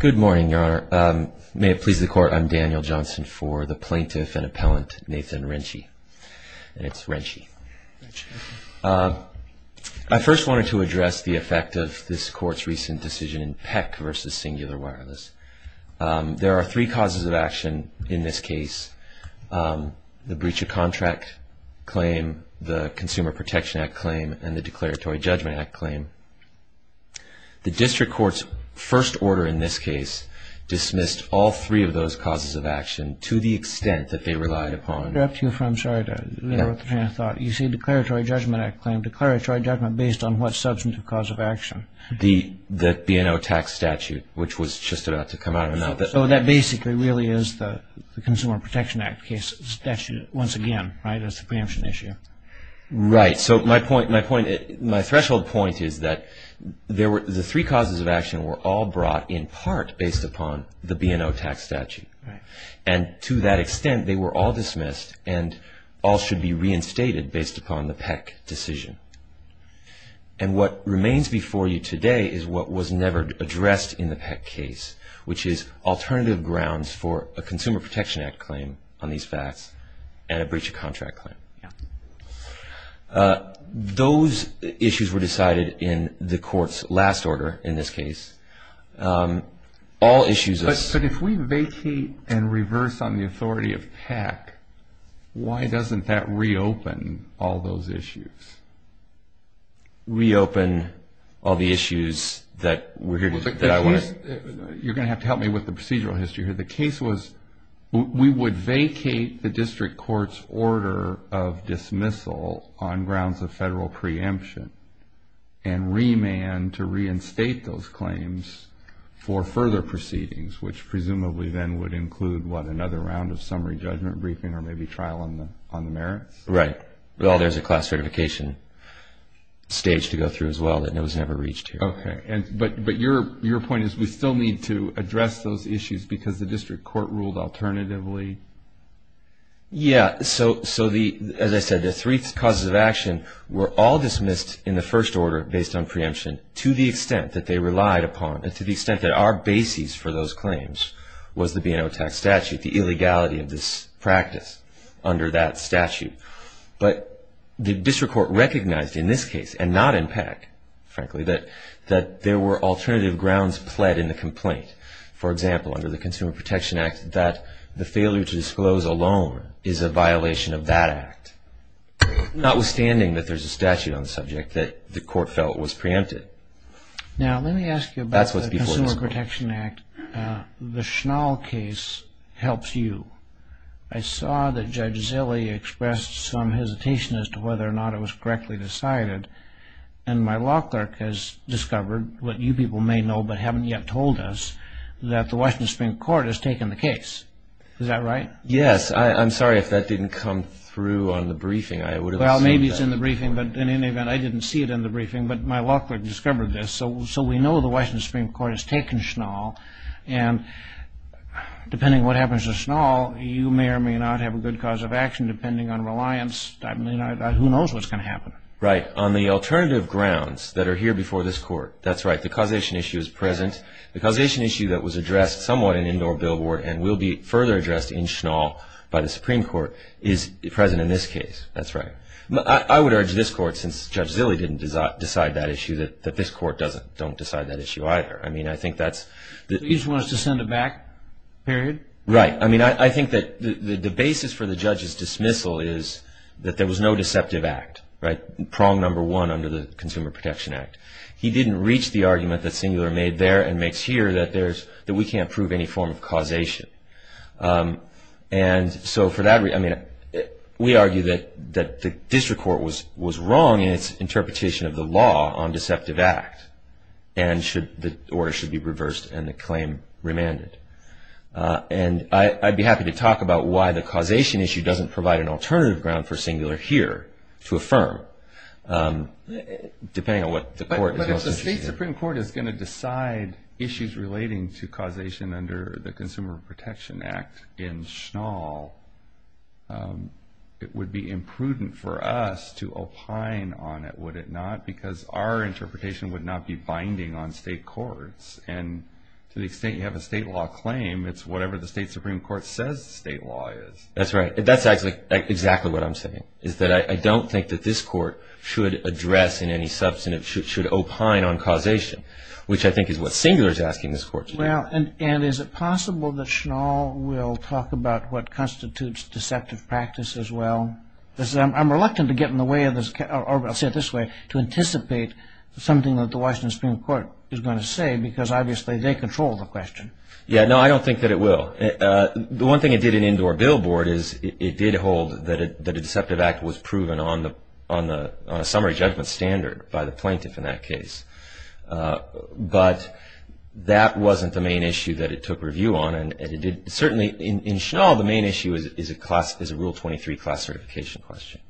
Good morning, Your Honor. May it please the Court, I'm Daniel Johnson for the Plaintiff and Appellant Nathan Riensche. And it's Riensche. I first wanted to address the effect of this Court's recent decision in Peck v. Cingular Wireless. There are three causes of action in this case. The breach of contract claim, the Consumer Protection Act claim, and the Declaratory Judgment Act claim. The District Court's first order in this case dismissed all three of those causes of action to the extent that they relied upon I'm sorry to interrupt you, Your Honor, but you see the Declaratory Judgment Act claim, Declaratory Judgment based on what substantive cause of action? The B&O tax statute, which was just about to come out. So that basically really is the Consumer Protection Act case statute once again, right? That's the preemption issue. Right. So my threshold point is that the three causes of action were all brought in part based upon the B&O tax statute. And to that extent, they were all dismissed and all should be reinstated based upon the Peck decision. And what remains before you today is what was never addressed in the Peck case, which is alternative grounds for a Consumer Protection Act claim on these facts and a breach of contract claim. Those issues were decided in the Court's last order in this case. All issues... But if we vacate and reverse on the authority of Peck, why doesn't that reopen all those issues? Reopen all the issues that... You're going to have to help me with the procedural history here. The case was we would vacate the district court's order of dismissal on grounds of federal preemption and remand to reinstate those claims for further proceedings, which presumably then would include, what, another round of summary judgment briefing or maybe trial on the merits? Right. Well, there's a class certification stage to go through as well that was never reached here. Okay. But your point is we still need to address those issues because the district court ruled alternatively? Yeah. So, as I said, the three causes of action were all dismissed in the first order based on preemption to the extent that they relied upon and to the extent that our basis for those claims was the B&O tax statute, the illegality of this practice under that statute. But the district court recognized in this case and not in Peck, frankly, that there were alternative grounds pled in the complaint. For example, under the Consumer Protection Act, that the failure to disclose a loan is a violation of that act, notwithstanding that there's a statute on the subject that the court felt was preempted. Now, let me ask you about the Consumer Protection Act. The Schnall case helps you. I saw that Judge Zille expressed some hesitation as to whether or not it was correctly decided, and my law clerk has discovered what you people may know but haven't yet told us, that the Washington Supreme Court has taken the case. Is that right? Yes. I'm sorry if that didn't come through on the briefing. I would have assumed that. Well, maybe it's in the briefing, but in any event, I didn't see it in the briefing, but my law clerk discovered this. So we know the Washington Supreme Court has taken Schnall, and depending on what happens to Schnall, you may or may not have a good cause of action depending on reliance. Who knows what's going to happen? Right. On the alternative grounds that are here before this court, that's right, the causation issue is present. The causation issue that was addressed somewhat in indoor billboard and will be further addressed in Schnall by the Supreme Court is present in this case. That's right. I would urge this court, since Judge Zilley didn't decide that issue, that this court don't decide that issue either. You just want us to send it back, period? Right. I think that the basis for the judge's dismissal is that there was no deceptive act, prong number one under the Consumer Protection Act. He didn't reach the argument that Singular made there and makes here that we can't prove any form of causation. And so for that reason, I mean, we argue that the district court was wrong in its interpretation of the law on deceptive act, or it should be reversed and the claim remanded. And I'd be happy to talk about why the causation issue doesn't provide an alternative ground for Singular here to affirm, depending on what the court does. If the state Supreme Court is going to decide issues relating to causation under the Consumer Protection Act in Schnall, it would be imprudent for us to opine on it, would it not? Because our interpretation would not be binding on state courts. And to the extent you have a state law claim, it's whatever the state Supreme Court says the state law is. That's right. That's actually exactly what I'm saying, is that I don't think that this court should address in any substantive, should opine on causation, which I think is what Singular is asking this court to do. Well, and is it possible that Schnall will talk about what constitutes deceptive practice as well? I'm reluctant to get in the way of this, or I'll say it this way, to anticipate something that the Washington Supreme Court is going to say because obviously they control the question. Yeah, no, I don't think that it will. The one thing it did in indoor billboard is it did hold that a deceptive act was proven on a summary judgment standard by the plaintiff in that case. But that wasn't the main issue that it took review on. Certainly in Schnall, the main issue is a Rule 23 class certification question.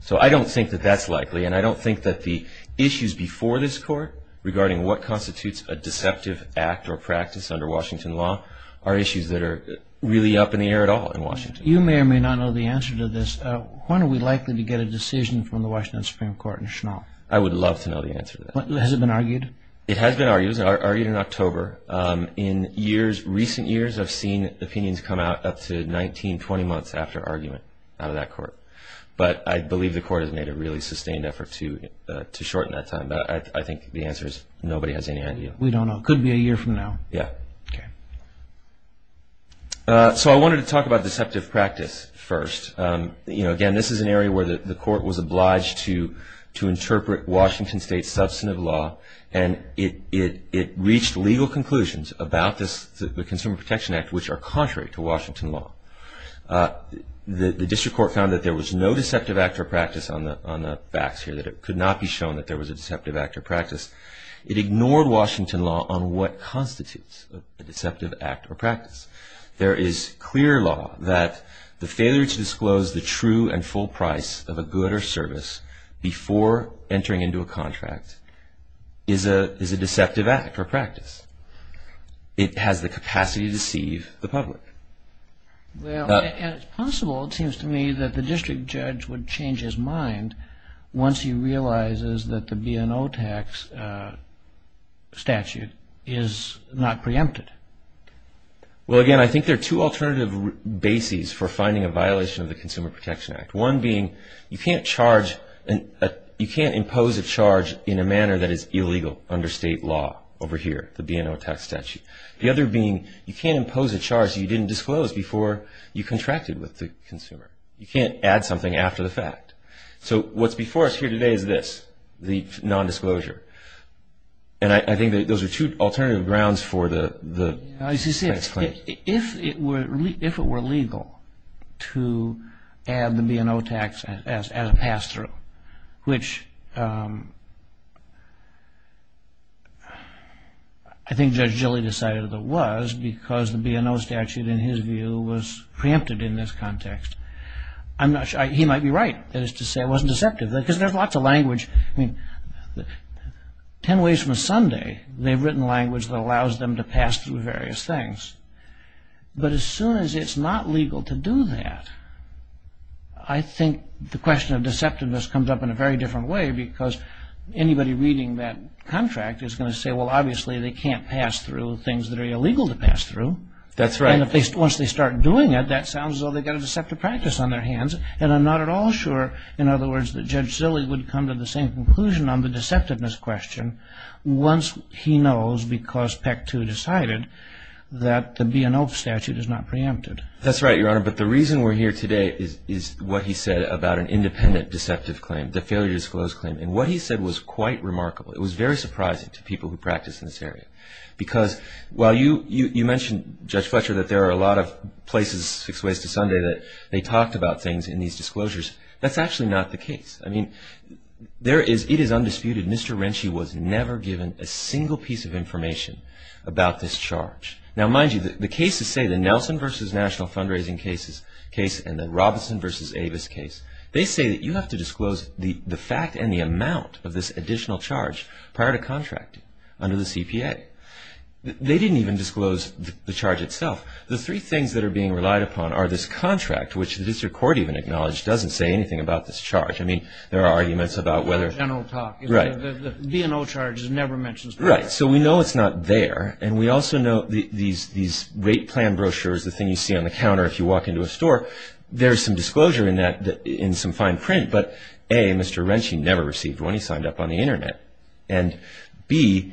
So I don't think that that's likely, and I don't think that the issues before this court regarding what constitutes a deceptive act or practice under Washington law are issues that are really up in the air at all in Washington. You may or may not know the answer to this. When are we likely to get a decision from the Washington Supreme Court in Schnall? I would love to know the answer to that. Has it been argued? It has been argued. It was argued in October. In recent years, I've seen opinions come out up to 19, 20 months after argument out of that court. But I believe the court has made a really sustained effort to shorten that time. But I think the answer is nobody has any idea. We don't know. It could be a year from now. Yeah. Okay. So I wanted to talk about deceptive practice first. Again, this is an area where the court was obliged to interpret Washington State's substantive law, and it reached legal conclusions about the Consumer Protection Act, which are contrary to Washington law. The district court found that there was no deceptive act or practice on the facts here, that it could not be shown that there was a deceptive act or practice. It ignored Washington law on what constitutes a deceptive act or practice. There is clear law that the failure to disclose the true and full price of a good or service before entering into a contract is a deceptive act or practice. It has the capacity to deceive the public. Well, and it's possible, it seems to me, that the district judge would change his mind once he realizes that the B&O tax statute is not preempted. Well, again, I think there are two alternative bases for finding a violation of the Consumer Protection Act, one being you can't impose a charge in a manner that is illegal under state law over here, the B&O tax statute. The other being you can't impose a charge you didn't disclose before you contracted with the consumer. You can't add something after the fact. So what's before us here today is this, the nondisclosure. And I think those are two alternative grounds for the tax claim. You see, if it were legal to add the B&O tax as a pass-through, which I think Judge Gilly decided it was because the B&O statute, in his view, was preempted in this context. He might be right, that is to say it wasn't deceptive, because there's lots of language. I mean, ten ways from Sunday, they've written language that allows them to pass through various things. But as soon as it's not legal to do that, I think the question of deceptiveness comes up in a very different way because anybody reading that contract is going to say, well, obviously, they can't pass through things that are illegal to pass through. That's right. And once they start doing it, that sounds as though they've got a deceptive practice on their hands. And I'm not at all sure, in other words, that Judge Gilly would come to the same conclusion on the deceptiveness question once he knows, because PEC 2 decided, that the B&O statute is not preempted. That's right, Your Honor. But the reason we're here today is what he said about an independent deceptive claim, the failure to disclose claim. And what he said was quite remarkable. It was very surprising to people who practice in this area. Because while you mentioned, Judge Fletcher, that there are a lot of places, Six Ways to Sunday, that they talked about things in these disclosures, that's actually not the case. I mean, it is undisputed, Mr. Renci was never given a single piece of information about this charge. Now, mind you, the cases say, the Nelson v. National fundraising case and the Robinson v. Avis case, they say that you have to disclose the fact and the amount of this additional charge prior to contracting under the CPA. They didn't even disclose the charge itself. The three things that are being relied upon are this contract, which the district court even acknowledged doesn't say anything about this charge. I mean, there are arguments about whether the B&O charge is never mentioned. Right. So we know it's not there. And we also know these rate plan brochures, the thing you see on the counter if you walk into a store, there's some disclosure in some fine print. But, A, Mr. Renci never received one. He signed up on the Internet. And, B,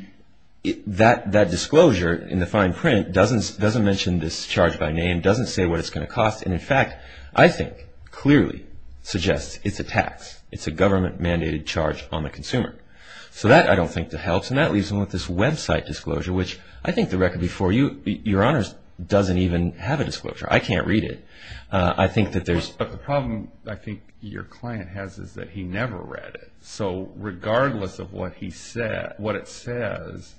that disclosure in the fine print doesn't mention this charge by name, doesn't say what it's going to cost. And, in fact, I think clearly suggests it's a tax. It's a government-mandated charge on the consumer. So that, I don't think, helps. And that leaves him with this website disclosure, which I think the record before you, Your Honors, doesn't even have a disclosure. I can't read it. I think that there's... But the problem I think your client has is that he never read it. So regardless of what it says,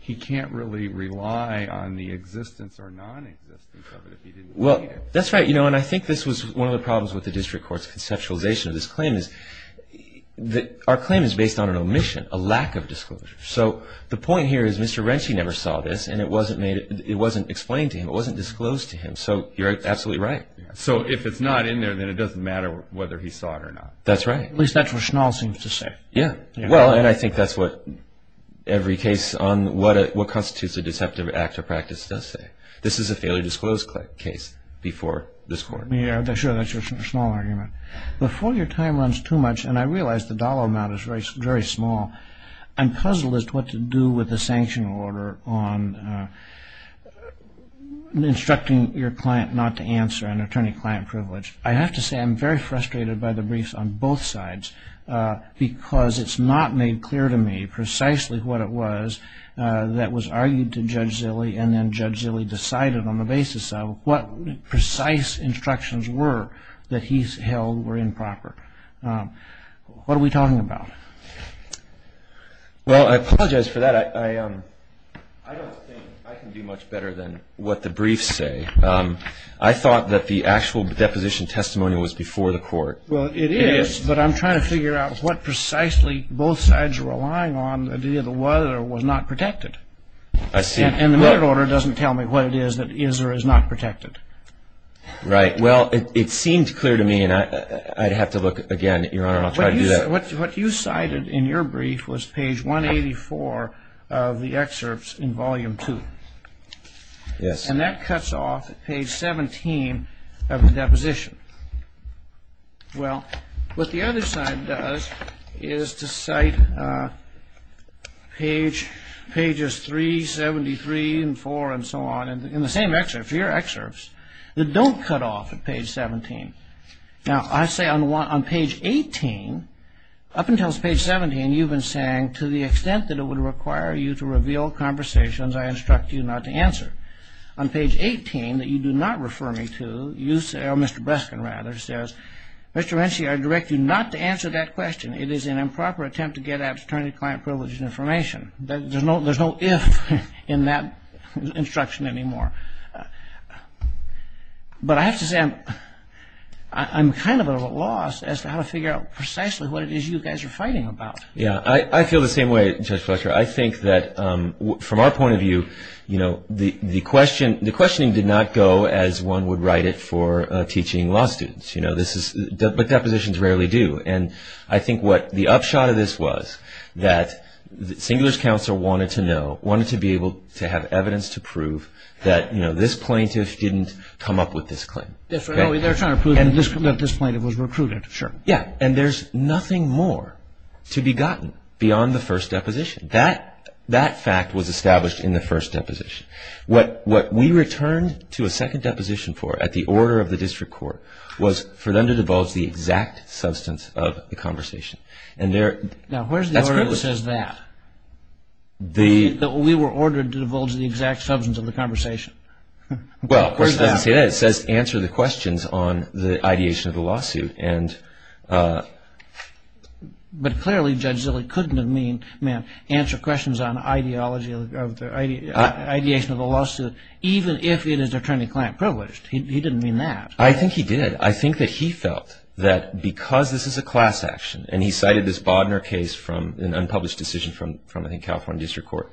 he can't really rely on the existence or non-existence of it if he didn't read it. Well, that's right. And I think this was one of the problems with the district court's conceptualization of this claim is that our claim is based on an omission, a lack of disclosure. So the point here is Mr. Renci never saw this. And it wasn't explained to him. It wasn't disclosed to him. So you're absolutely right. So if it's not in there, then it doesn't matter whether he saw it or not. That's right. At least that's what Schnall seems to say. Yeah. Well, and I think that's what every case on what constitutes a deceptive act of practice does say. This is a failure to disclose case before this court. Yeah, sure. That's your Schnall argument. Before your time runs too much, and I realize the dollar amount is very small, I'm puzzled as to what to do with the sanction order on instructing your client not to answer an attorney-client privilege. I have to say I'm very frustrated by the briefs on both sides because it's not made clear to me precisely what it was that was argued to Judge Zille and then Judge Zille decided on the basis of what precise instructions were that he held were improper. What are we talking about? Well, I apologize for that. I don't think I can do much better than what the briefs say. I thought that the actual deposition testimony was before the court. Well, it is, but I'm trying to figure out what precisely both sides are relying on, the idea that it was or was not protected. I see. And the merit order doesn't tell me what it is that is or is not protected. Right. Well, it seemed clear to me, and I'd have to look again, Your Honor, and I'll try to do that. What you cited in your brief was page 184 of the excerpts in volume two. Yes. And that cuts off page 17 of the deposition. Well, what the other side does is to cite pages 373 and 4 and so on in the same excerpt, your excerpts that don't cut off at page 17. Now, I say on page 18, up until page 17, you've been saying to the extent that it would require you to reveal conversations, I instruct you not to answer. On page 18, that you do not refer me to, you say, or Mr. Breskin, rather, says, Mr. Renshaw, I direct you not to answer that question. It is an improper attempt to get at attorney-client privileges and information. There's no if in that instruction anymore. But I have to say, I'm kind of at a loss as to how to figure out precisely what it is you guys are fighting about. Yeah, I feel the same way, Judge Fletcher. I think that from our point of view, you know, the questioning did not go as one would write it for teaching law students. You know, but depositions rarely do. And I think what the upshot of this was that Singler's counsel wanted to know, wanted to be able to have evidence to prove that, you know, this plaintiff didn't come up with this claim. They're trying to prove that this plaintiff was recruited. Sure. Yeah. And there's nothing more to be gotten beyond the first deposition. That fact was established in the first deposition. What we returned to a second deposition for at the order of the district court was for them to divulge the exact substance of the conversation. Now, where's the order that says that? We were ordered to divulge the exact substance of the conversation. Well, of course, it doesn't say that. It says answer the questions on the ideation of the lawsuit. But clearly, Judge Zille couldn't have meant answer questions on ideology of the ideation of the lawsuit, even if it is attorney-client privileged. He didn't mean that. I think he did. I think that he felt that because this is a class action, and he cited this Bodner case from an unpublished decision from, I think, California District Court.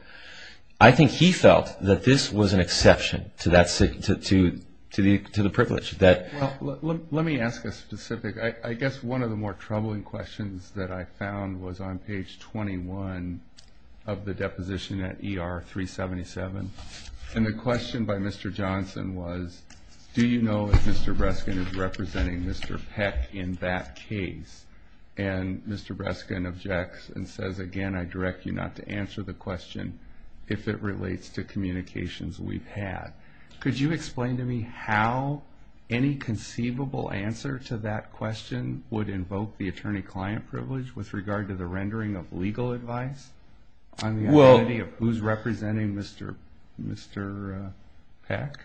I think he felt that this was an exception to the privilege. Let me ask a specific. I guess one of the more troubling questions that I found was on page 21 of the deposition at ER 377. And the question by Mr. Johnson was, do you know if Mr. Breskin is representing Mr. Peck in that case? And Mr. Breskin objects and says, again, I direct you not to answer the question if it relates to communications we've had. Could you explain to me how any conceivable answer to that question would invoke the attorney-client privilege with regard to the rendering of legal advice on the identity of who's representing Mr. Peck?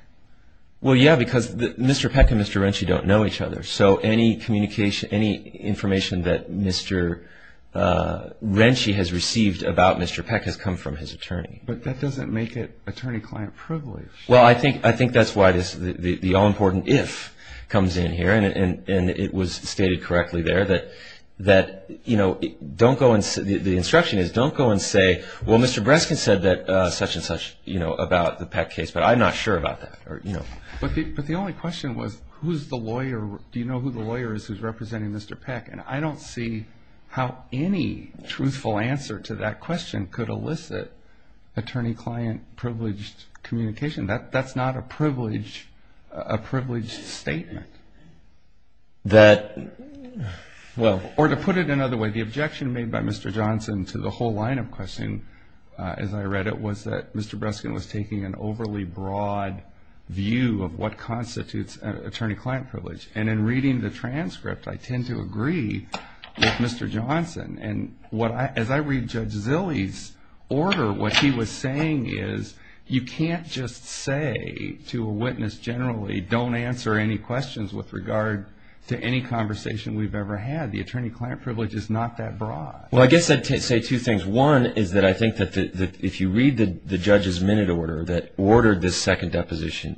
Well, yeah, because Mr. Peck and Mr. Renci don't know each other. So any information that Mr. Renci has received about Mr. Peck has come from his attorney. But that doesn't make it attorney-client privilege. Well, I think that's why the all-important if comes in here, and it was stated correctly there. The instruction is don't go and say, well, Mr. Breskin said such and such about the Peck case, but I'm not sure about that. But the only question was, who's the lawyer? Do you know who the lawyer is who's representing Mr. Peck? And I don't see how any truthful answer to that question could elicit attorney-client privileged communication. That's not a privileged statement. Or to put it another way, the objection made by Mr. Johnson to the whole line of questioning, as I read it, was that Mr. Breskin was taking an overly broad view of what constitutes attorney-client privilege. And in reading the transcript, I tend to agree with Mr. Johnson. And as I read Judge Zilley's order, what he was saying is you can't just say to a witness generally, don't answer any questions with regard to any conversation we've ever had. The attorney-client privilege is not that broad. Well, I guess I'd say two things. One is that I think that if you read the judge's minute order that ordered this second deposition,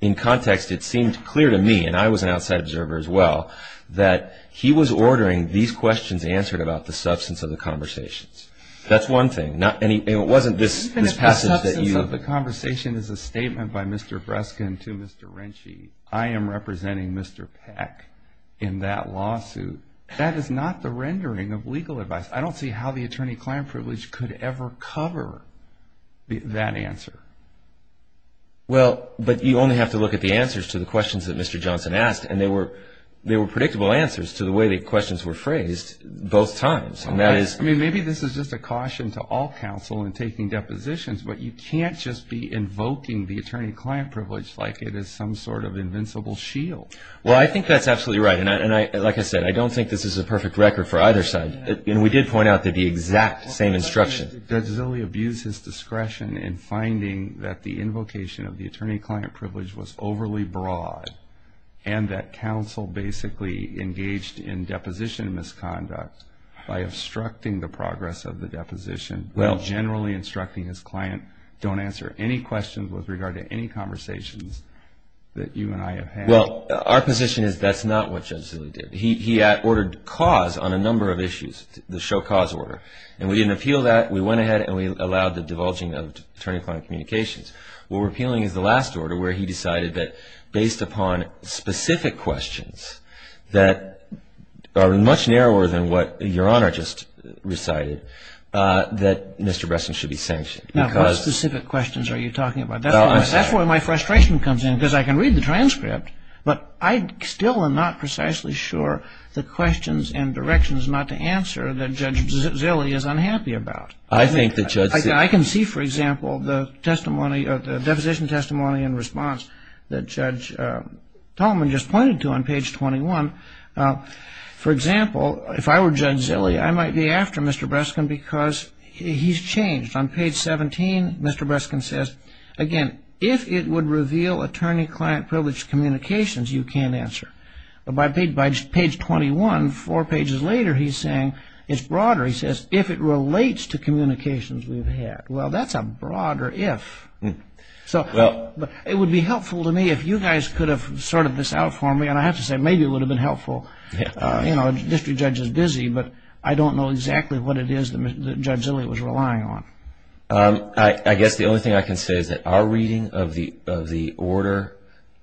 in context it seemed clear to me, and I was an outside observer as well, that he was ordering these questions answered about the substance of the conversations. That's one thing. And it wasn't this passage that you... Even if the substance of the conversation is a statement by Mr. Breskin to Mr. Renshie, I am representing Mr. Peck in that lawsuit. That is not the rendering of legal advice. I don't see how the attorney-client privilege could ever cover that answer. Well, but you only have to look at the answers to the questions that Mr. Johnson asked, and they were predictable answers to the way the questions were phrased both times. I mean, maybe this is just a caution to all counsel in taking depositions, but you can't just be invoking the attorney-client privilege like it is some sort of invincible shield. Well, I think that's absolutely right. And like I said, I don't think this is a perfect record for either side. And we did point out the exact same instruction. Judge Zille abused his discretion in finding that the invocation of the attorney-client privilege was overly broad and that counsel basically engaged in deposition misconduct by obstructing the progress of the deposition while generally instructing his client, don't answer any questions with regard to any conversations that you and I have had. Well, our position is that's not what Judge Zille did. He ordered cause on a number of issues, the show cause order. And we didn't appeal that. We went ahead and we allowed the divulging of attorney-client communications. What we're appealing is the last order where he decided that based upon specific questions that are much narrower than what Your Honor just recited, that Mr. Bresson should be sanctioned. Now, what specific questions are you talking about? But I still am not precisely sure the questions and directions not to answer that Judge Zille is unhappy about. I can see, for example, the deposition testimony in response that Judge Tolman just pointed to on page 21. For example, if I were Judge Zille, I might be after Mr. Bresson because he's changed. On page 17, Mr. Bresson says, again, if it would reveal attorney-client privileged communications, you can't answer. But by page 21, four pages later, he's saying it's broader. He says, if it relates to communications we've had. Well, that's a broader if. So it would be helpful to me if you guys could have sorted this out for me. And I have to say, maybe it would have been helpful. A district judge is busy, but I don't know exactly what it is that Judge Zille was relying on. I guess the only thing I can say is that our reading of the order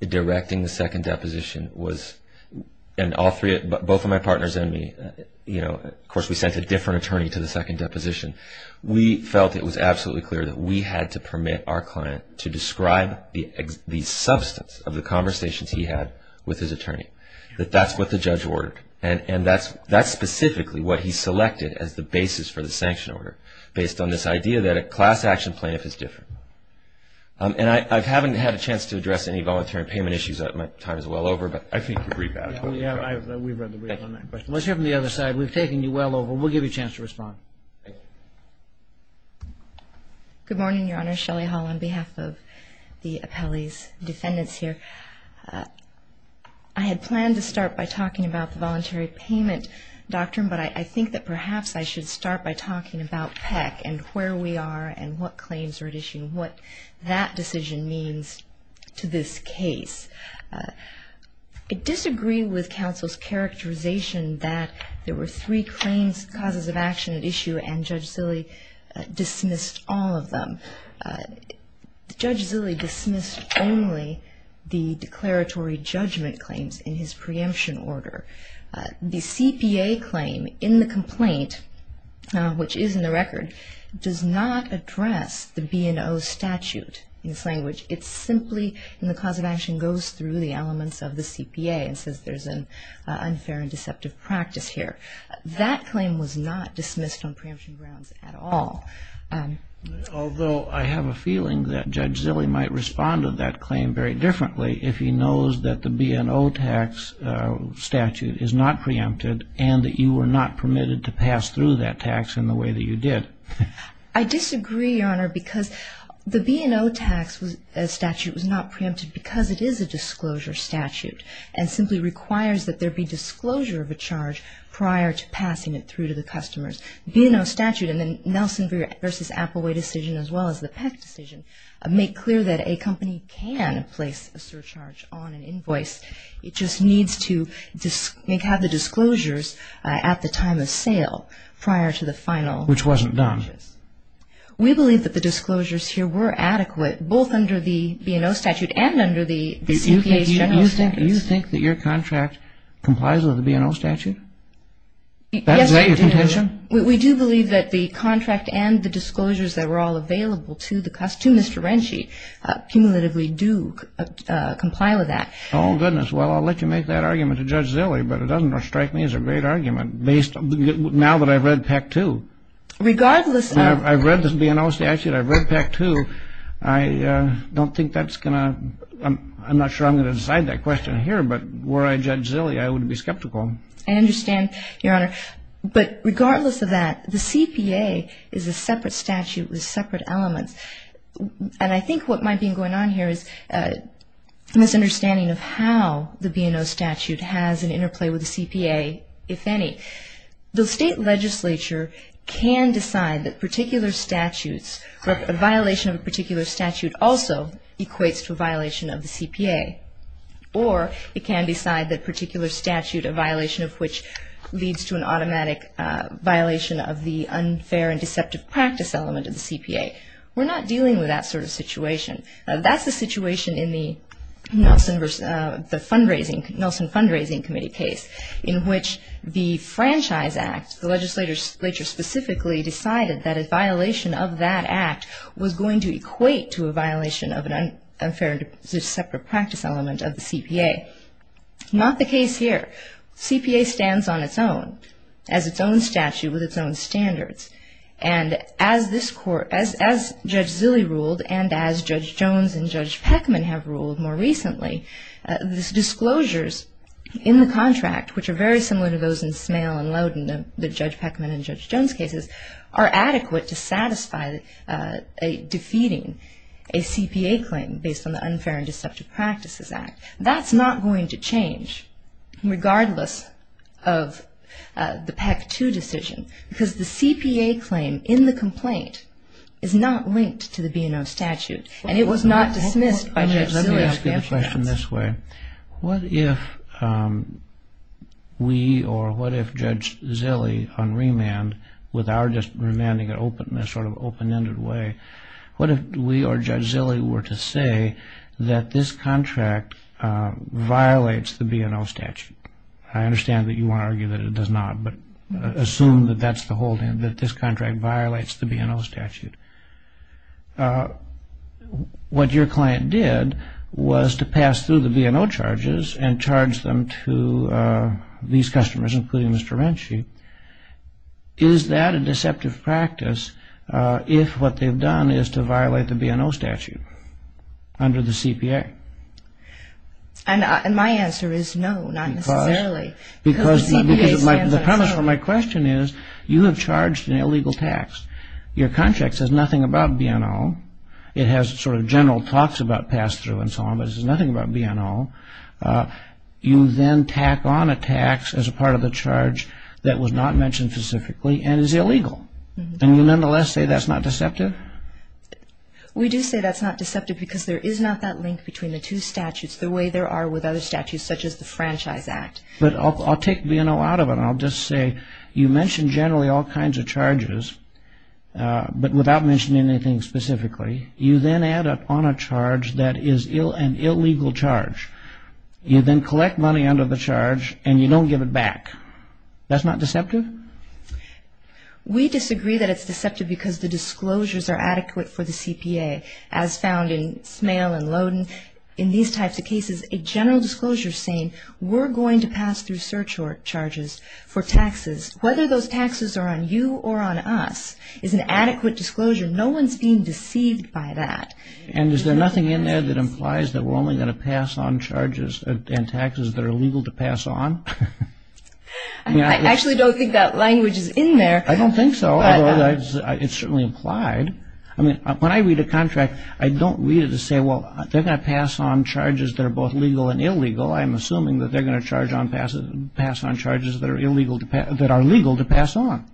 directing the second deposition was, and both of my partners and me, of course, we sent a different attorney to the second deposition. We felt it was absolutely clear that we had to permit our client to describe the substance of the conversations he had with his attorney. That that's what the judge ordered. And that's specifically what he selected as the basis for the sanction order, based on this idea that a class-action plaintiff is different. And I haven't had a chance to address any voluntary payment issues. My time is well over, but I think you can read that. We've read the brief on that question. Let's hear from the other side. We've taken you well over. We'll give you a chance to respond. Good morning, Your Honor. Shelley Hall on behalf of the appellee's defendants here. I had planned to start by talking about the voluntary payment doctrine, but I think that perhaps I should start by talking about PEC and where we are and what claims are at issue and what that decision means to this case. I disagree with counsel's characterization that there were three claims, causes of action at issue, and Judge Zille dismissed all of them. Judge Zille dismissed only the declaratory judgment claims in his preemption order. The CPA claim in the complaint, which is in the record, does not address the B&O statute in its language. It simply, in the cause of action, goes through the elements of the CPA and says there's an unfair and deceptive practice here. That claim was not dismissed on preemption grounds at all. Although I have a feeling that Judge Zille might respond to that claim very differently if he knows that the B&O tax statute is not preempted and that you were not permitted to pass through that tax in the way that you did. I disagree, Your Honor, because the B&O statute was not preempted because it is a disclosure statute and simply requires that there be disclosure of a charge prior to passing it through to the customers. The B&O statute and the Nelson v. Applewhite decision as well as the Peck decision make clear that a company can place a surcharge on an invoice. It just needs to have the disclosures at the time of sale prior to the final purchase. Which wasn't done. We believe that the disclosures here were adequate both under the B&O statute and under the CPA's general statute. Do you think that your contract complies with the B&O statute? We do believe that the contract and the disclosures that were all available to Mr. Renshie cumulatively do comply with that. Oh, goodness. Well, I'll let you make that argument to Judge Zille, but it doesn't strike me as a great argument now that I've read Peck too. I've read the B&O statute. I've read Peck too. I don't think that's going to – I'm not sure I'm going to decide that question here, but were I Judge Zille, I would be skeptical. I understand, Your Honor. But regardless of that, the CPA is a separate statute with separate elements. And I think what might be going on here is a misunderstanding of how the B&O statute has an interplay with the CPA, if any. The state legislature can decide that particular statutes, a violation of a particular statute also equates to a violation of the CPA. Or it can decide that a particular statute, a violation of which leads to an automatic violation of the unfair and deceptive practice element of the CPA. We're not dealing with that sort of situation. That's the situation in the Nelson Fundraising Committee case, in which the Franchise Act, the legislature specifically decided that a violation of that act was going to equate to a violation of an unfair and deceptive practice element of the CPA. Not the case here. The CPA stands on its own, as its own statute with its own standards. And as Judge Zille ruled and as Judge Jones and Judge Peckman have ruled more recently, these disclosures in the contract, which are very similar to those in Smale and Loudon, the Judge Peckman and Judge Jones cases, are adequate to satisfy defeating a CPA claim based on the Unfair and Deceptive Practices Act. That's not going to change, regardless of the Peck 2 decision, because the CPA claim in the complaint is not linked to the B&O statute. And it was not dismissed by Judge Zille. Let me put the question this way. What if we or what if Judge Zille on remand, with our remanding in a sort of open-ended way, what if we or Judge Zille were to say that this contract violates the B&O statute? I understand that you want to argue that it does not, but assume that this contract violates the B&O statute. What your client did was to pass through the B&O charges and charge them to these customers, including Mr. Renshie. Is that a deceptive practice if what they've done is to violate the B&O statute under the CPA? And my answer is no, not necessarily. Because the premise of my question is you have charged an illegal tax. Your contract says nothing about B&O. It has sort of general talks about pass-through and so on, but it says nothing about B&O. You then tack on a tax as a part of the charge that was not mentioned specifically and is illegal. And you nonetheless say that's not deceptive? We do say that's not deceptive because there is not that link between the two statutes, the way there are with other statutes, such as the Franchise Act. But I'll take B&O out of it. And I'll just say you mention generally all kinds of charges, but without mentioning anything specifically. You then add up on a charge that is an illegal charge. You then collect money under the charge and you don't give it back. That's not deceptive? We disagree that it's deceptive because the disclosures are adequate for the CPA, as found in Smale and Loden in these types of cases. A general disclosure saying we're going to pass through surcharge charges for taxes, whether those taxes are on you or on us, is an adequate disclosure. No one's being deceived by that. And is there nothing in there that implies that we're only going to pass on charges and taxes that are illegal to pass on? I actually don't think that language is in there. I don't think so, although it's certainly implied. I mean, when I read a contract, I don't read it to say, well, they're going to pass on charges that are both legal and illegal. I'm assuming that they're going to pass on charges that are legal to pass on.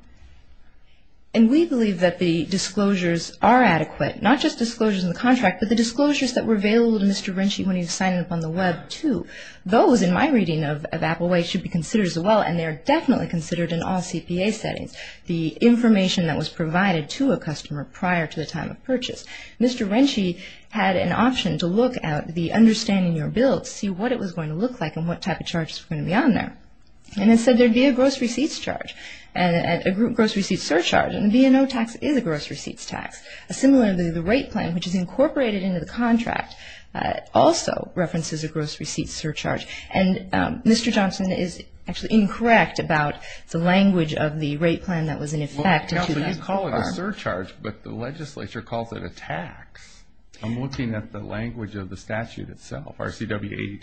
And we believe that the disclosures are adequate, not just disclosures in the contract, but the disclosures that were available to Mr. Rinchey when he was signing up on the Web, too. Those, in my reading of Applewhite, should be considered as well, and they're definitely considered in all CPA settings. The information that was provided to a customer prior to the time of purchase. Mr. Rinchey had an option to look at the understanding you're built, see what it was going to look like and what type of charges were going to be on there. And it said there'd be a gross receipts charge and a gross receipts surcharge, and the B&O tax is a gross receipts tax. Similarly, the rate plan, which is incorporated into the contract, also references a gross receipts surcharge. And Mr. Johnson is actually incorrect about the language of the rate plan that was in effect. Counsel, you call it a surcharge, but the legislature calls it a tax. I'm looking at the language of the statute itself, RCW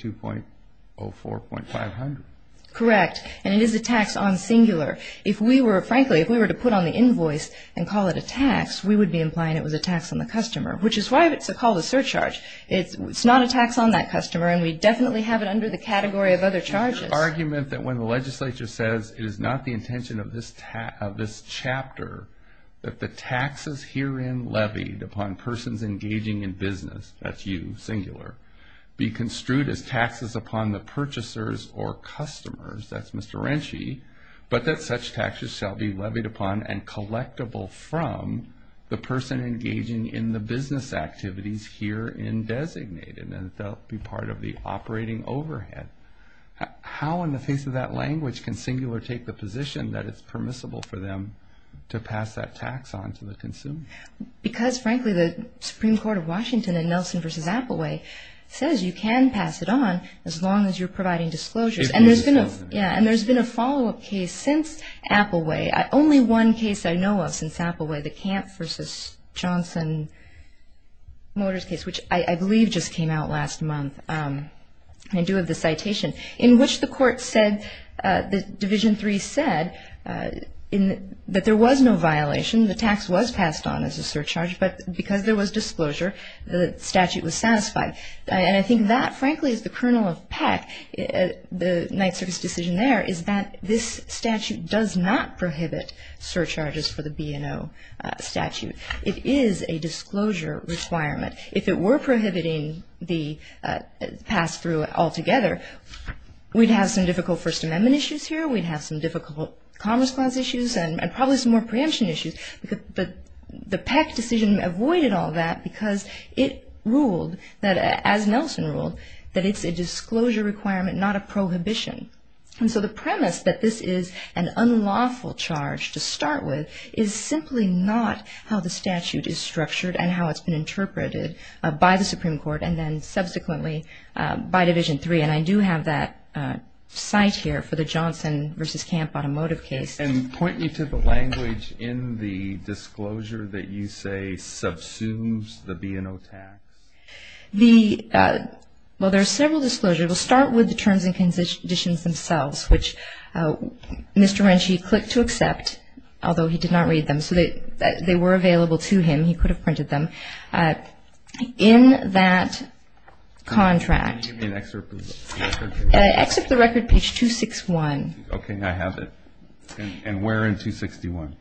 82.04.500. Correct. And it is a tax on singular. If we were, frankly, if we were to put on the invoice and call it a tax, we would be implying it was a tax on the customer, which is why it's called a surcharge. It's not a tax on that customer, and we definitely have it under the category of other charges. Your argument that when the legislature says it is not the intention of this chapter that the taxes herein levied upon persons engaging in business, that's you, singular, be construed as taxes upon the purchasers or customers, that's Mr. Rinchey, but that such taxes shall be levied upon and collectible from the person engaging in the business activities herein designated, and that they'll be part of the operating overhead. How, in the face of that language, can singular take the position that it's permissible for them to pass that tax on to the consumer? Because, frankly, the Supreme Court of Washington in Nelson v. Applewhite says you can pass it on as long as you're providing disclosures. And there's been a follow-up case since Applewhite. Only one case I know of since Applewhite, the Camp v. Johnson Motors case, which I believe just came out last month in due of the citation, in which the court said, Division III said, that there was no violation, the tax was passed on as a surcharge, but because there was disclosure, the statute was satisfied. And I think that, frankly, is the kernel of Peck, the Ninth Circuit's decision there, is that this statute does not prohibit surcharges for the B&O statute. It is a disclosure requirement. If it were prohibiting the pass-through altogether, we'd have some difficult First Amendment issues here, we'd have some difficult Commerce Clause issues, and probably some more preemption issues. But the Peck decision avoided all that because it ruled, as Nelson ruled, that it's a disclosure requirement, not a prohibition. And so the premise that this is an unlawful charge to start with is simply not how the statute is structured and how it's been interpreted by the Supreme Court and then subsequently by Division III. And I do have that cite here for the Johnson v. Camp automotive case. And point me to the language in the disclosure that you say subsumes the B&O tax. Well, there are several disclosures. It will start with the terms and conditions themselves, which Mr. Wrenchy clicked to accept, although he did not read them. So they were available to him. He could have printed them. In that contract. Can you give me an excerpt of the record? Excerpt of the record, page 261. Okay. I have it. And where in 261?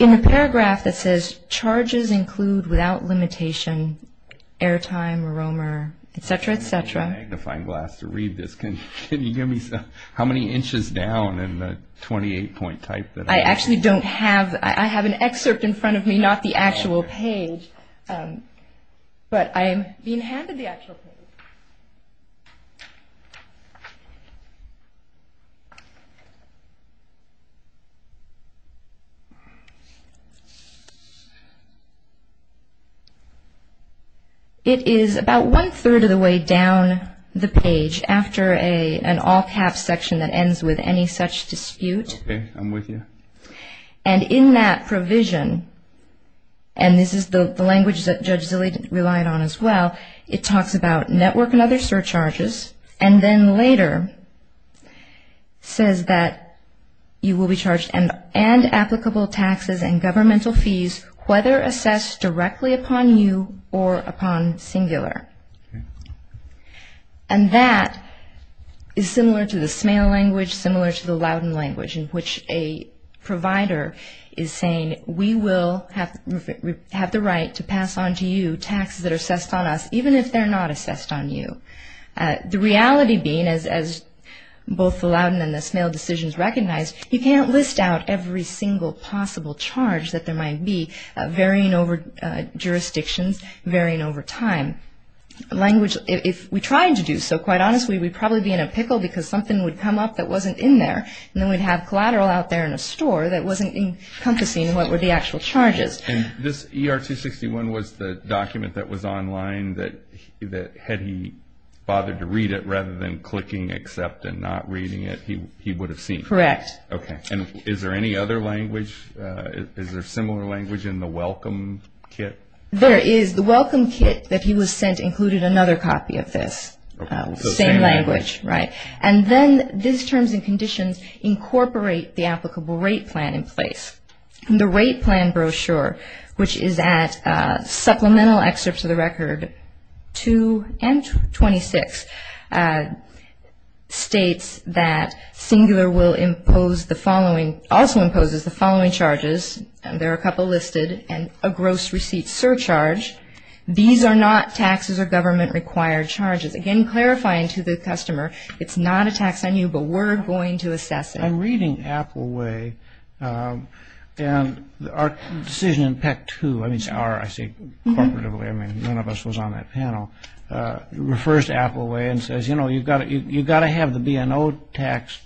In the paragraph that says, charges include, without limitation, airtime, aroma, et cetera, et cetera. I don't have a magnifying glass to read this. Can you give me how many inches down in the 28-point type that I have? I actually don't have. I have an excerpt in front of me, not the actual page. But I am being handed the actual page. It is about one-third of the way down the page, after an all-caps section that ends with any such dispute. Okay. I'm with you. And in that provision, and this is the language that Judge Zille relied on as well, it talks about network and other surcharges, and then later says that you will be charged and applicable taxes and governmental fees, whether assessed directly upon you or upon singular. And that is similar to the Smale language, similar to the Loudon language, which a provider is saying we will have the right to pass on to you taxes that are assessed on us, even if they're not assessed on you. The reality being, as both the Loudon and the Smale decisions recognize, you can't list out every single possible charge that there might be, varying over jurisdictions, varying over time. Language, if we tried to do so, quite honestly, we'd probably be in a pickle because something would come up that wasn't in there, and then we'd have collateral out there in a store that wasn't encompassing what were the actual charges. And this ER-261 was the document that was online that, had he bothered to read it rather than clicking accept and not reading it, he would have seen it? Correct. Okay. And is there any other language? Is there similar language in the Welcome Kit? There is. The Welcome Kit that he was sent included another copy of this. Okay. So same language. Same language, right. And then these terms and conditions incorporate the applicable rate plan in place. The rate plan brochure, which is at supplemental excerpts of the record 2 and 26, states that Singular will impose the following, also imposes the following charges, and there are a couple listed, and a gross receipt surcharge. These are not taxes or government-required charges. Again, clarifying to the customer, it's not a tax on you, but we're going to assess it. I'm reading Appleway, and our decision in PEC 2, I mean it's our, I say corporatively, I mean none of us was on that panel, refers to Appleway and says, you know, you've got to have the B&O tax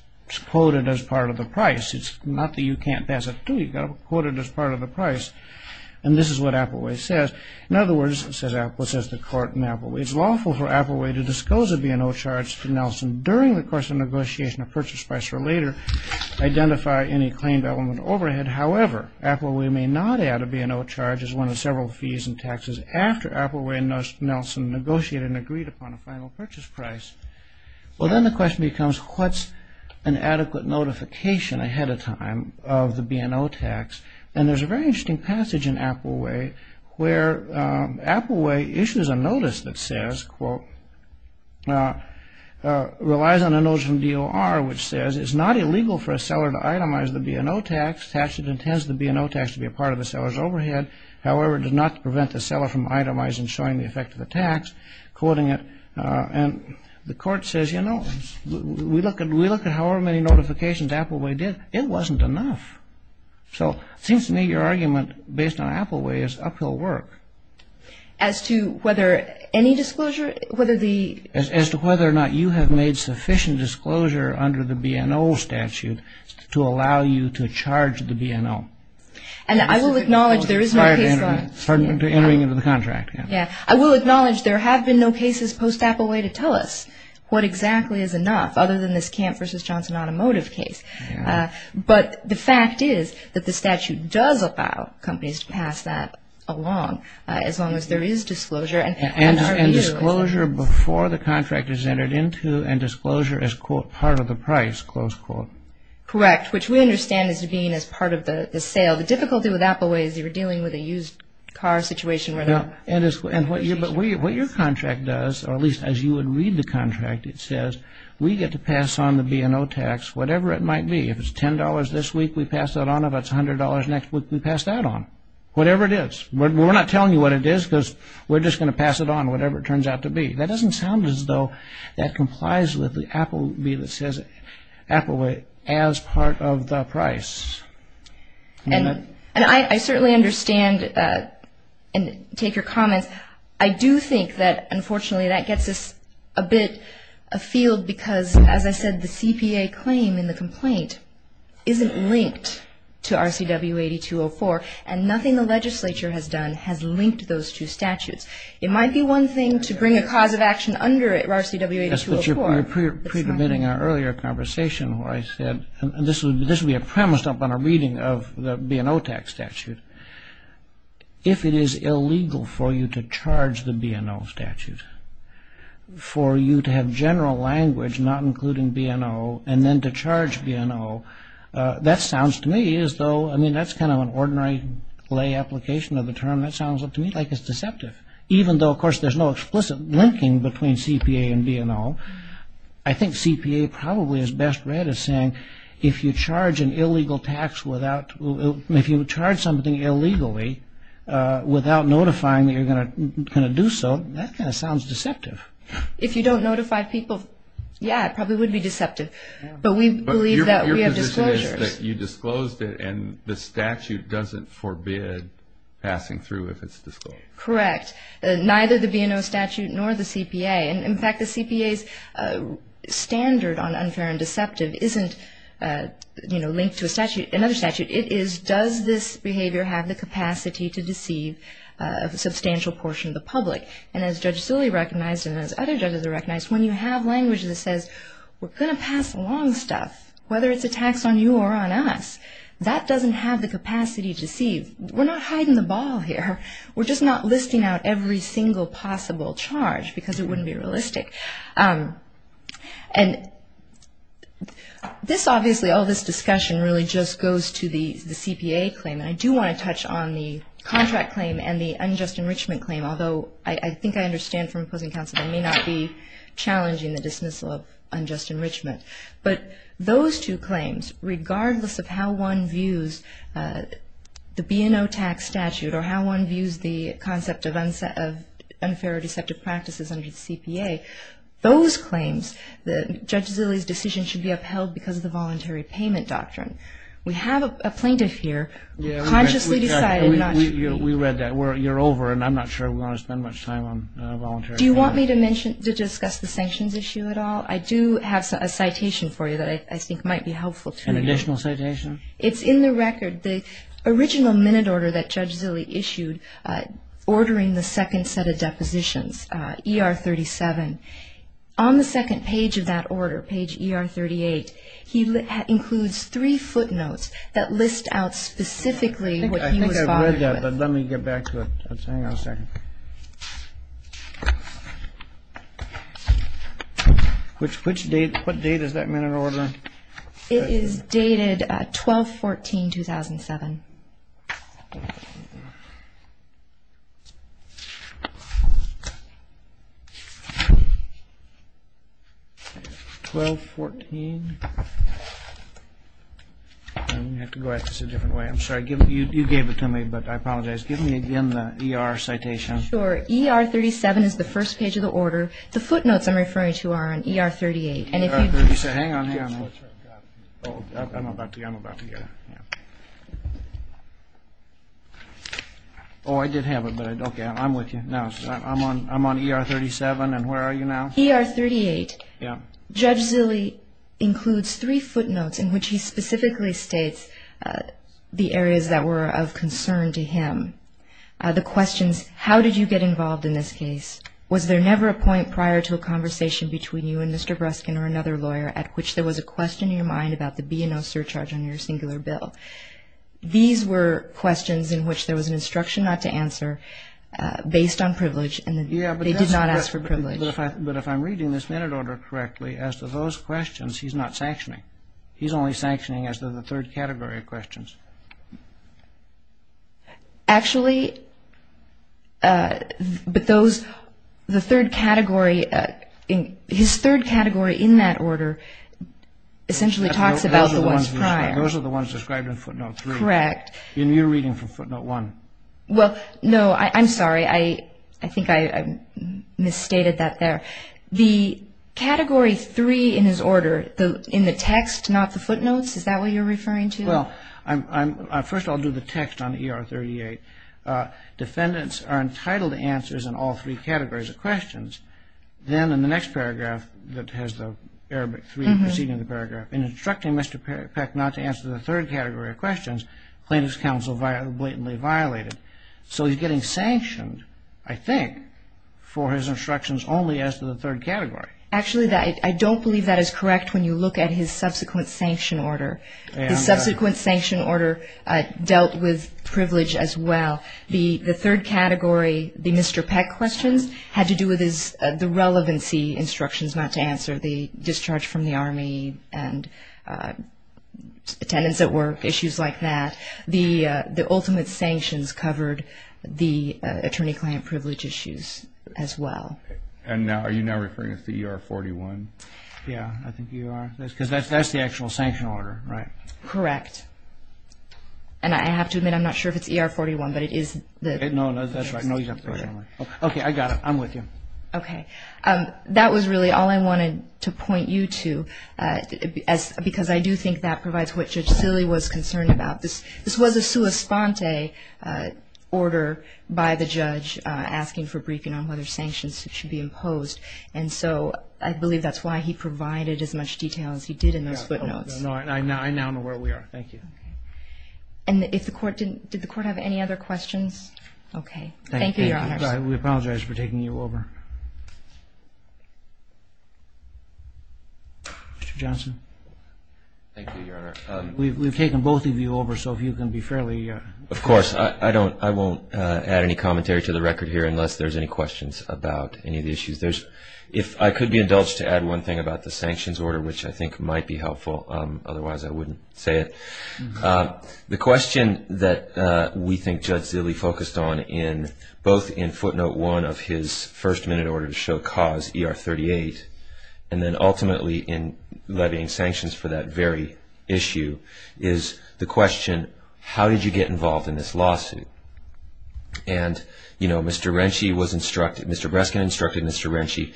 quoted as part of the price. It's not that you can't pass it through, you've got to quote it as part of the price. And this is what Appleway says. In other words, says Apple, says the court in Appleway, it's lawful for Appleway to disclose a B&O charge to Nelson during the course of negotiation of purchase price or later identify any claimed element overhead. However, Appleway may not add a B&O charge as one of several fees and taxes after Appleway and Nelson negotiated and agreed upon a final purchase price. Well, then the question becomes, what's an adequate notification ahead of time of the B&O tax? And there's a very interesting passage in Appleway where Appleway issues a notice that says, quote, relies on a notion of DOR, which says it's not illegal for a seller to itemize the B&O tax. The statute intends the B&O tax to be a part of the seller's overhead. However, it does not prevent the seller from itemizing and showing the effect of the tax. Quoting it, and the court says, you know, we look at however many notifications Appleway did, it wasn't enough. So it seems to me your argument based on Appleway is uphill work. As to whether any disclosure, whether the – As to whether or not you have made sufficient disclosure under the B&O statute to allow you to charge the B&O. And I will acknowledge there is no – Pardon me, entering into the contract. Yeah. I will acknowledge there have been no cases post-Appleway to tell us what exactly is enough, other than this Camp v. Johnson Automotive case. But the fact is that the statute does allow companies to pass that along, as long as there is disclosure. And disclosure before the contract is entered into, and disclosure as, quote, part of the price, close quote. Correct. Which we understand as being as part of the sale. The difficulty with Appleway is you're dealing with a used car situation. Yeah. And what your contract does, or at least as you would read the contract, it says we get to pass on the B&O tax, whatever it might be. If it's $10 this week, we pass that on. If it's $100 next week, we pass that on. Whatever it is. We're not telling you what it is because we're just going to pass it on, whatever it turns out to be. That doesn't sound as though that complies with the Apple – Appleway as part of the price. And I certainly understand and take your comments. I do think that, unfortunately, that gets us a bit afield because, as I said, the CPA claim in the complaint isn't linked to RCW 8204, and nothing the legislature has done has linked those two statutes. It might be one thing to bring a cause of action under RCW 8204. Yes, but you're pre-permitting our earlier conversation where I said, and this will be premised up on a reading of the B&O tax statute, if it is illegal for you to charge the B&O statute, for you to have general language not including B&O, and then to charge B&O, that sounds to me as though – I mean, that's kind of an ordinary lay application of the term. That sounds to me like it's deceptive, even though, of course, there's no explicit linking between CPA and B&O. I think CPA probably is best read as saying, if you charge an illegal tax without – if you charge something illegally without notifying that you're going to do so, that kind of sounds deceptive. If you don't notify people, yeah, it probably would be deceptive. But we believe that we have disclosures. But your position is that you disclosed it, and the statute doesn't forbid passing through if it's disclosed. Correct. Neither the B&O statute nor the CPA. And, in fact, the CPA's standard on unfair and deceptive isn't linked to another statute. It is, does this behavior have the capacity to deceive a substantial portion of the public? And as Judge Sully recognized and as other judges have recognized, when you have language that says, we're going to pass along stuff, whether it's a tax on you or on us, that doesn't have the capacity to deceive. We're not hiding the ball here. We're just not listing out every single possible charge because it wouldn't be realistic. And this, obviously, all this discussion really just goes to the CPA claim. And I do want to touch on the contract claim and the unjust enrichment claim, although I think I understand from opposing counsel they may not be challenging the dismissal of unjust enrichment. But those two claims, regardless of how one views the B&O tax statute or how one views the concept of unfair or deceptive practices under the CPA, those claims, Judge Sully's decision should be upheld because of the voluntary payment doctrine. We have a plaintiff here who consciously decided not to be. We read that. You're over and I'm not sure we want to spend much time on voluntary payment. Do you want me to discuss the sanctions issue at all? I do have a citation for you that I think might be helpful to you. An additional citation? It's in the record, the original minute order that Judge Sully issued, ordering the second set of depositions, ER 37. On the second page of that order, page ER 38, he includes three footnotes that list out specifically what he was bothered with. I think I've read that, but let me get back to it. Hang on a second. What date is that minute order? It is dated 12-14-2007. 12-14. I'm going to have to go at this a different way. I'm sorry, you gave it to me, but I apologize. Give me again the ER citation. Sure. ER 37 is the first page of the order. The footnotes I'm referring to are on ER 38. Hang on. I'm about to get it. Oh, I did have it. Okay, I'm with you now. I'm on ER 37, and where are you now? ER 38. Yeah. Judge Sully includes three footnotes in which he specifically states the areas that were of concern to him. The questions, how did you get involved in this case? Was there never a point prior to a conversation between you and Mr. Breskin or another lawyer at which there was a question in your mind about the B&O surcharge on your singular bill? These were questions in which there was an instruction not to answer based on privilege, and they did not ask for privilege. But if I'm reading this minute order correctly, as to those questions, he's not sanctioning. He's only sanctioning as to the third category of questions. Actually, but those, the third category, his third category in that order essentially talks about the ones prior. Those are the ones described in footnote three. Correct. In your reading from footnote one. Well, no, I'm sorry. I think I misstated that there. The category three in his order, in the text, not the footnotes, is that what you're referring to? Well, first I'll do the text on ER 38. Defendants are entitled to answers in all three categories of questions. Then in the next paragraph that has the Arabic three preceding the paragraph, in instructing Mr. Peck not to answer the third category of questions, plaintiff's counsel blatantly violated. So he's getting sanctioned, I think, for his instructions only as to the third category. Actually, I don't believe that is correct when you look at his subsequent sanction order. The subsequent sanction order dealt with privilege as well. The third category, the Mr. Peck questions, had to do with the relevancy instructions not to answer, the discharge from the Army and attendance at work, issues like that. The ultimate sanctions covered the attorney-client privilege issues as well. And are you now referring to the ER 41? Yeah, I think you are. Because that's the actual sanction order, right? Correct. And I have to admit, I'm not sure if it's ER 41, but it is. No, that's right. Okay, I got it. I'm with you. Okay. That was really all I wanted to point you to because I do think that provides what Judge Silley was concerned about. This was a sua sponte order by the judge asking for briefing on whether sanctions should be imposed. And so I believe that's why he provided as much detail as he did in those footnotes. I now know where we are. Thank you. And did the Court have any other questions? Okay. Thank you, Your Honor. We apologize for taking you over. Mr. Johnson. Thank you, Your Honor. We've taken both of you over, so if you can be fairly. Of course. I won't add any commentary to the record here unless there's any questions about any of the issues. If I could be indulged to add one thing about the sanctions order, which I think might be helpful, otherwise I wouldn't say it. The question that we think Judge Silley focused on both in footnote one of his first-minute order to show cause, ER 38, and then ultimately in levying sanctions for that very issue is the question, how did you get involved in this lawsuit? And, you know, Mr. Breskin instructed Mr. Renshie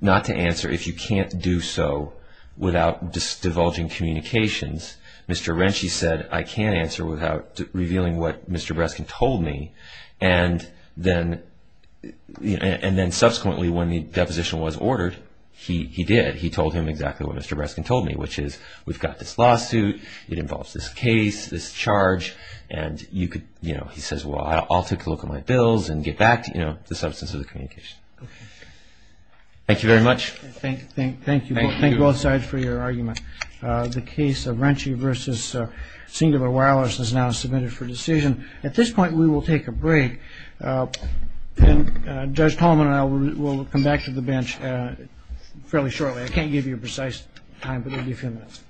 not to answer if you can't do so without divulging communications. Mr. Renshie said, I can't answer without revealing what Mr. Breskin told me. And then subsequently when the deposition was ordered, he did. He told him exactly what Mr. Breskin told me, which is, we've got this lawsuit. It involves this case, this charge, and, you know, he says, well, I'll take a look at my bills and get back, you know, the substance of the communication. Thank you very much. Thank you. Thank you both sides for your argument. The case of Renshie v. Singdiver Wireless is now submitted for decision. At this point, we will take a break. And Judge Tolman and I will come back to the bench fairly shortly. I can't give you a precise time, but it will be a few minutes.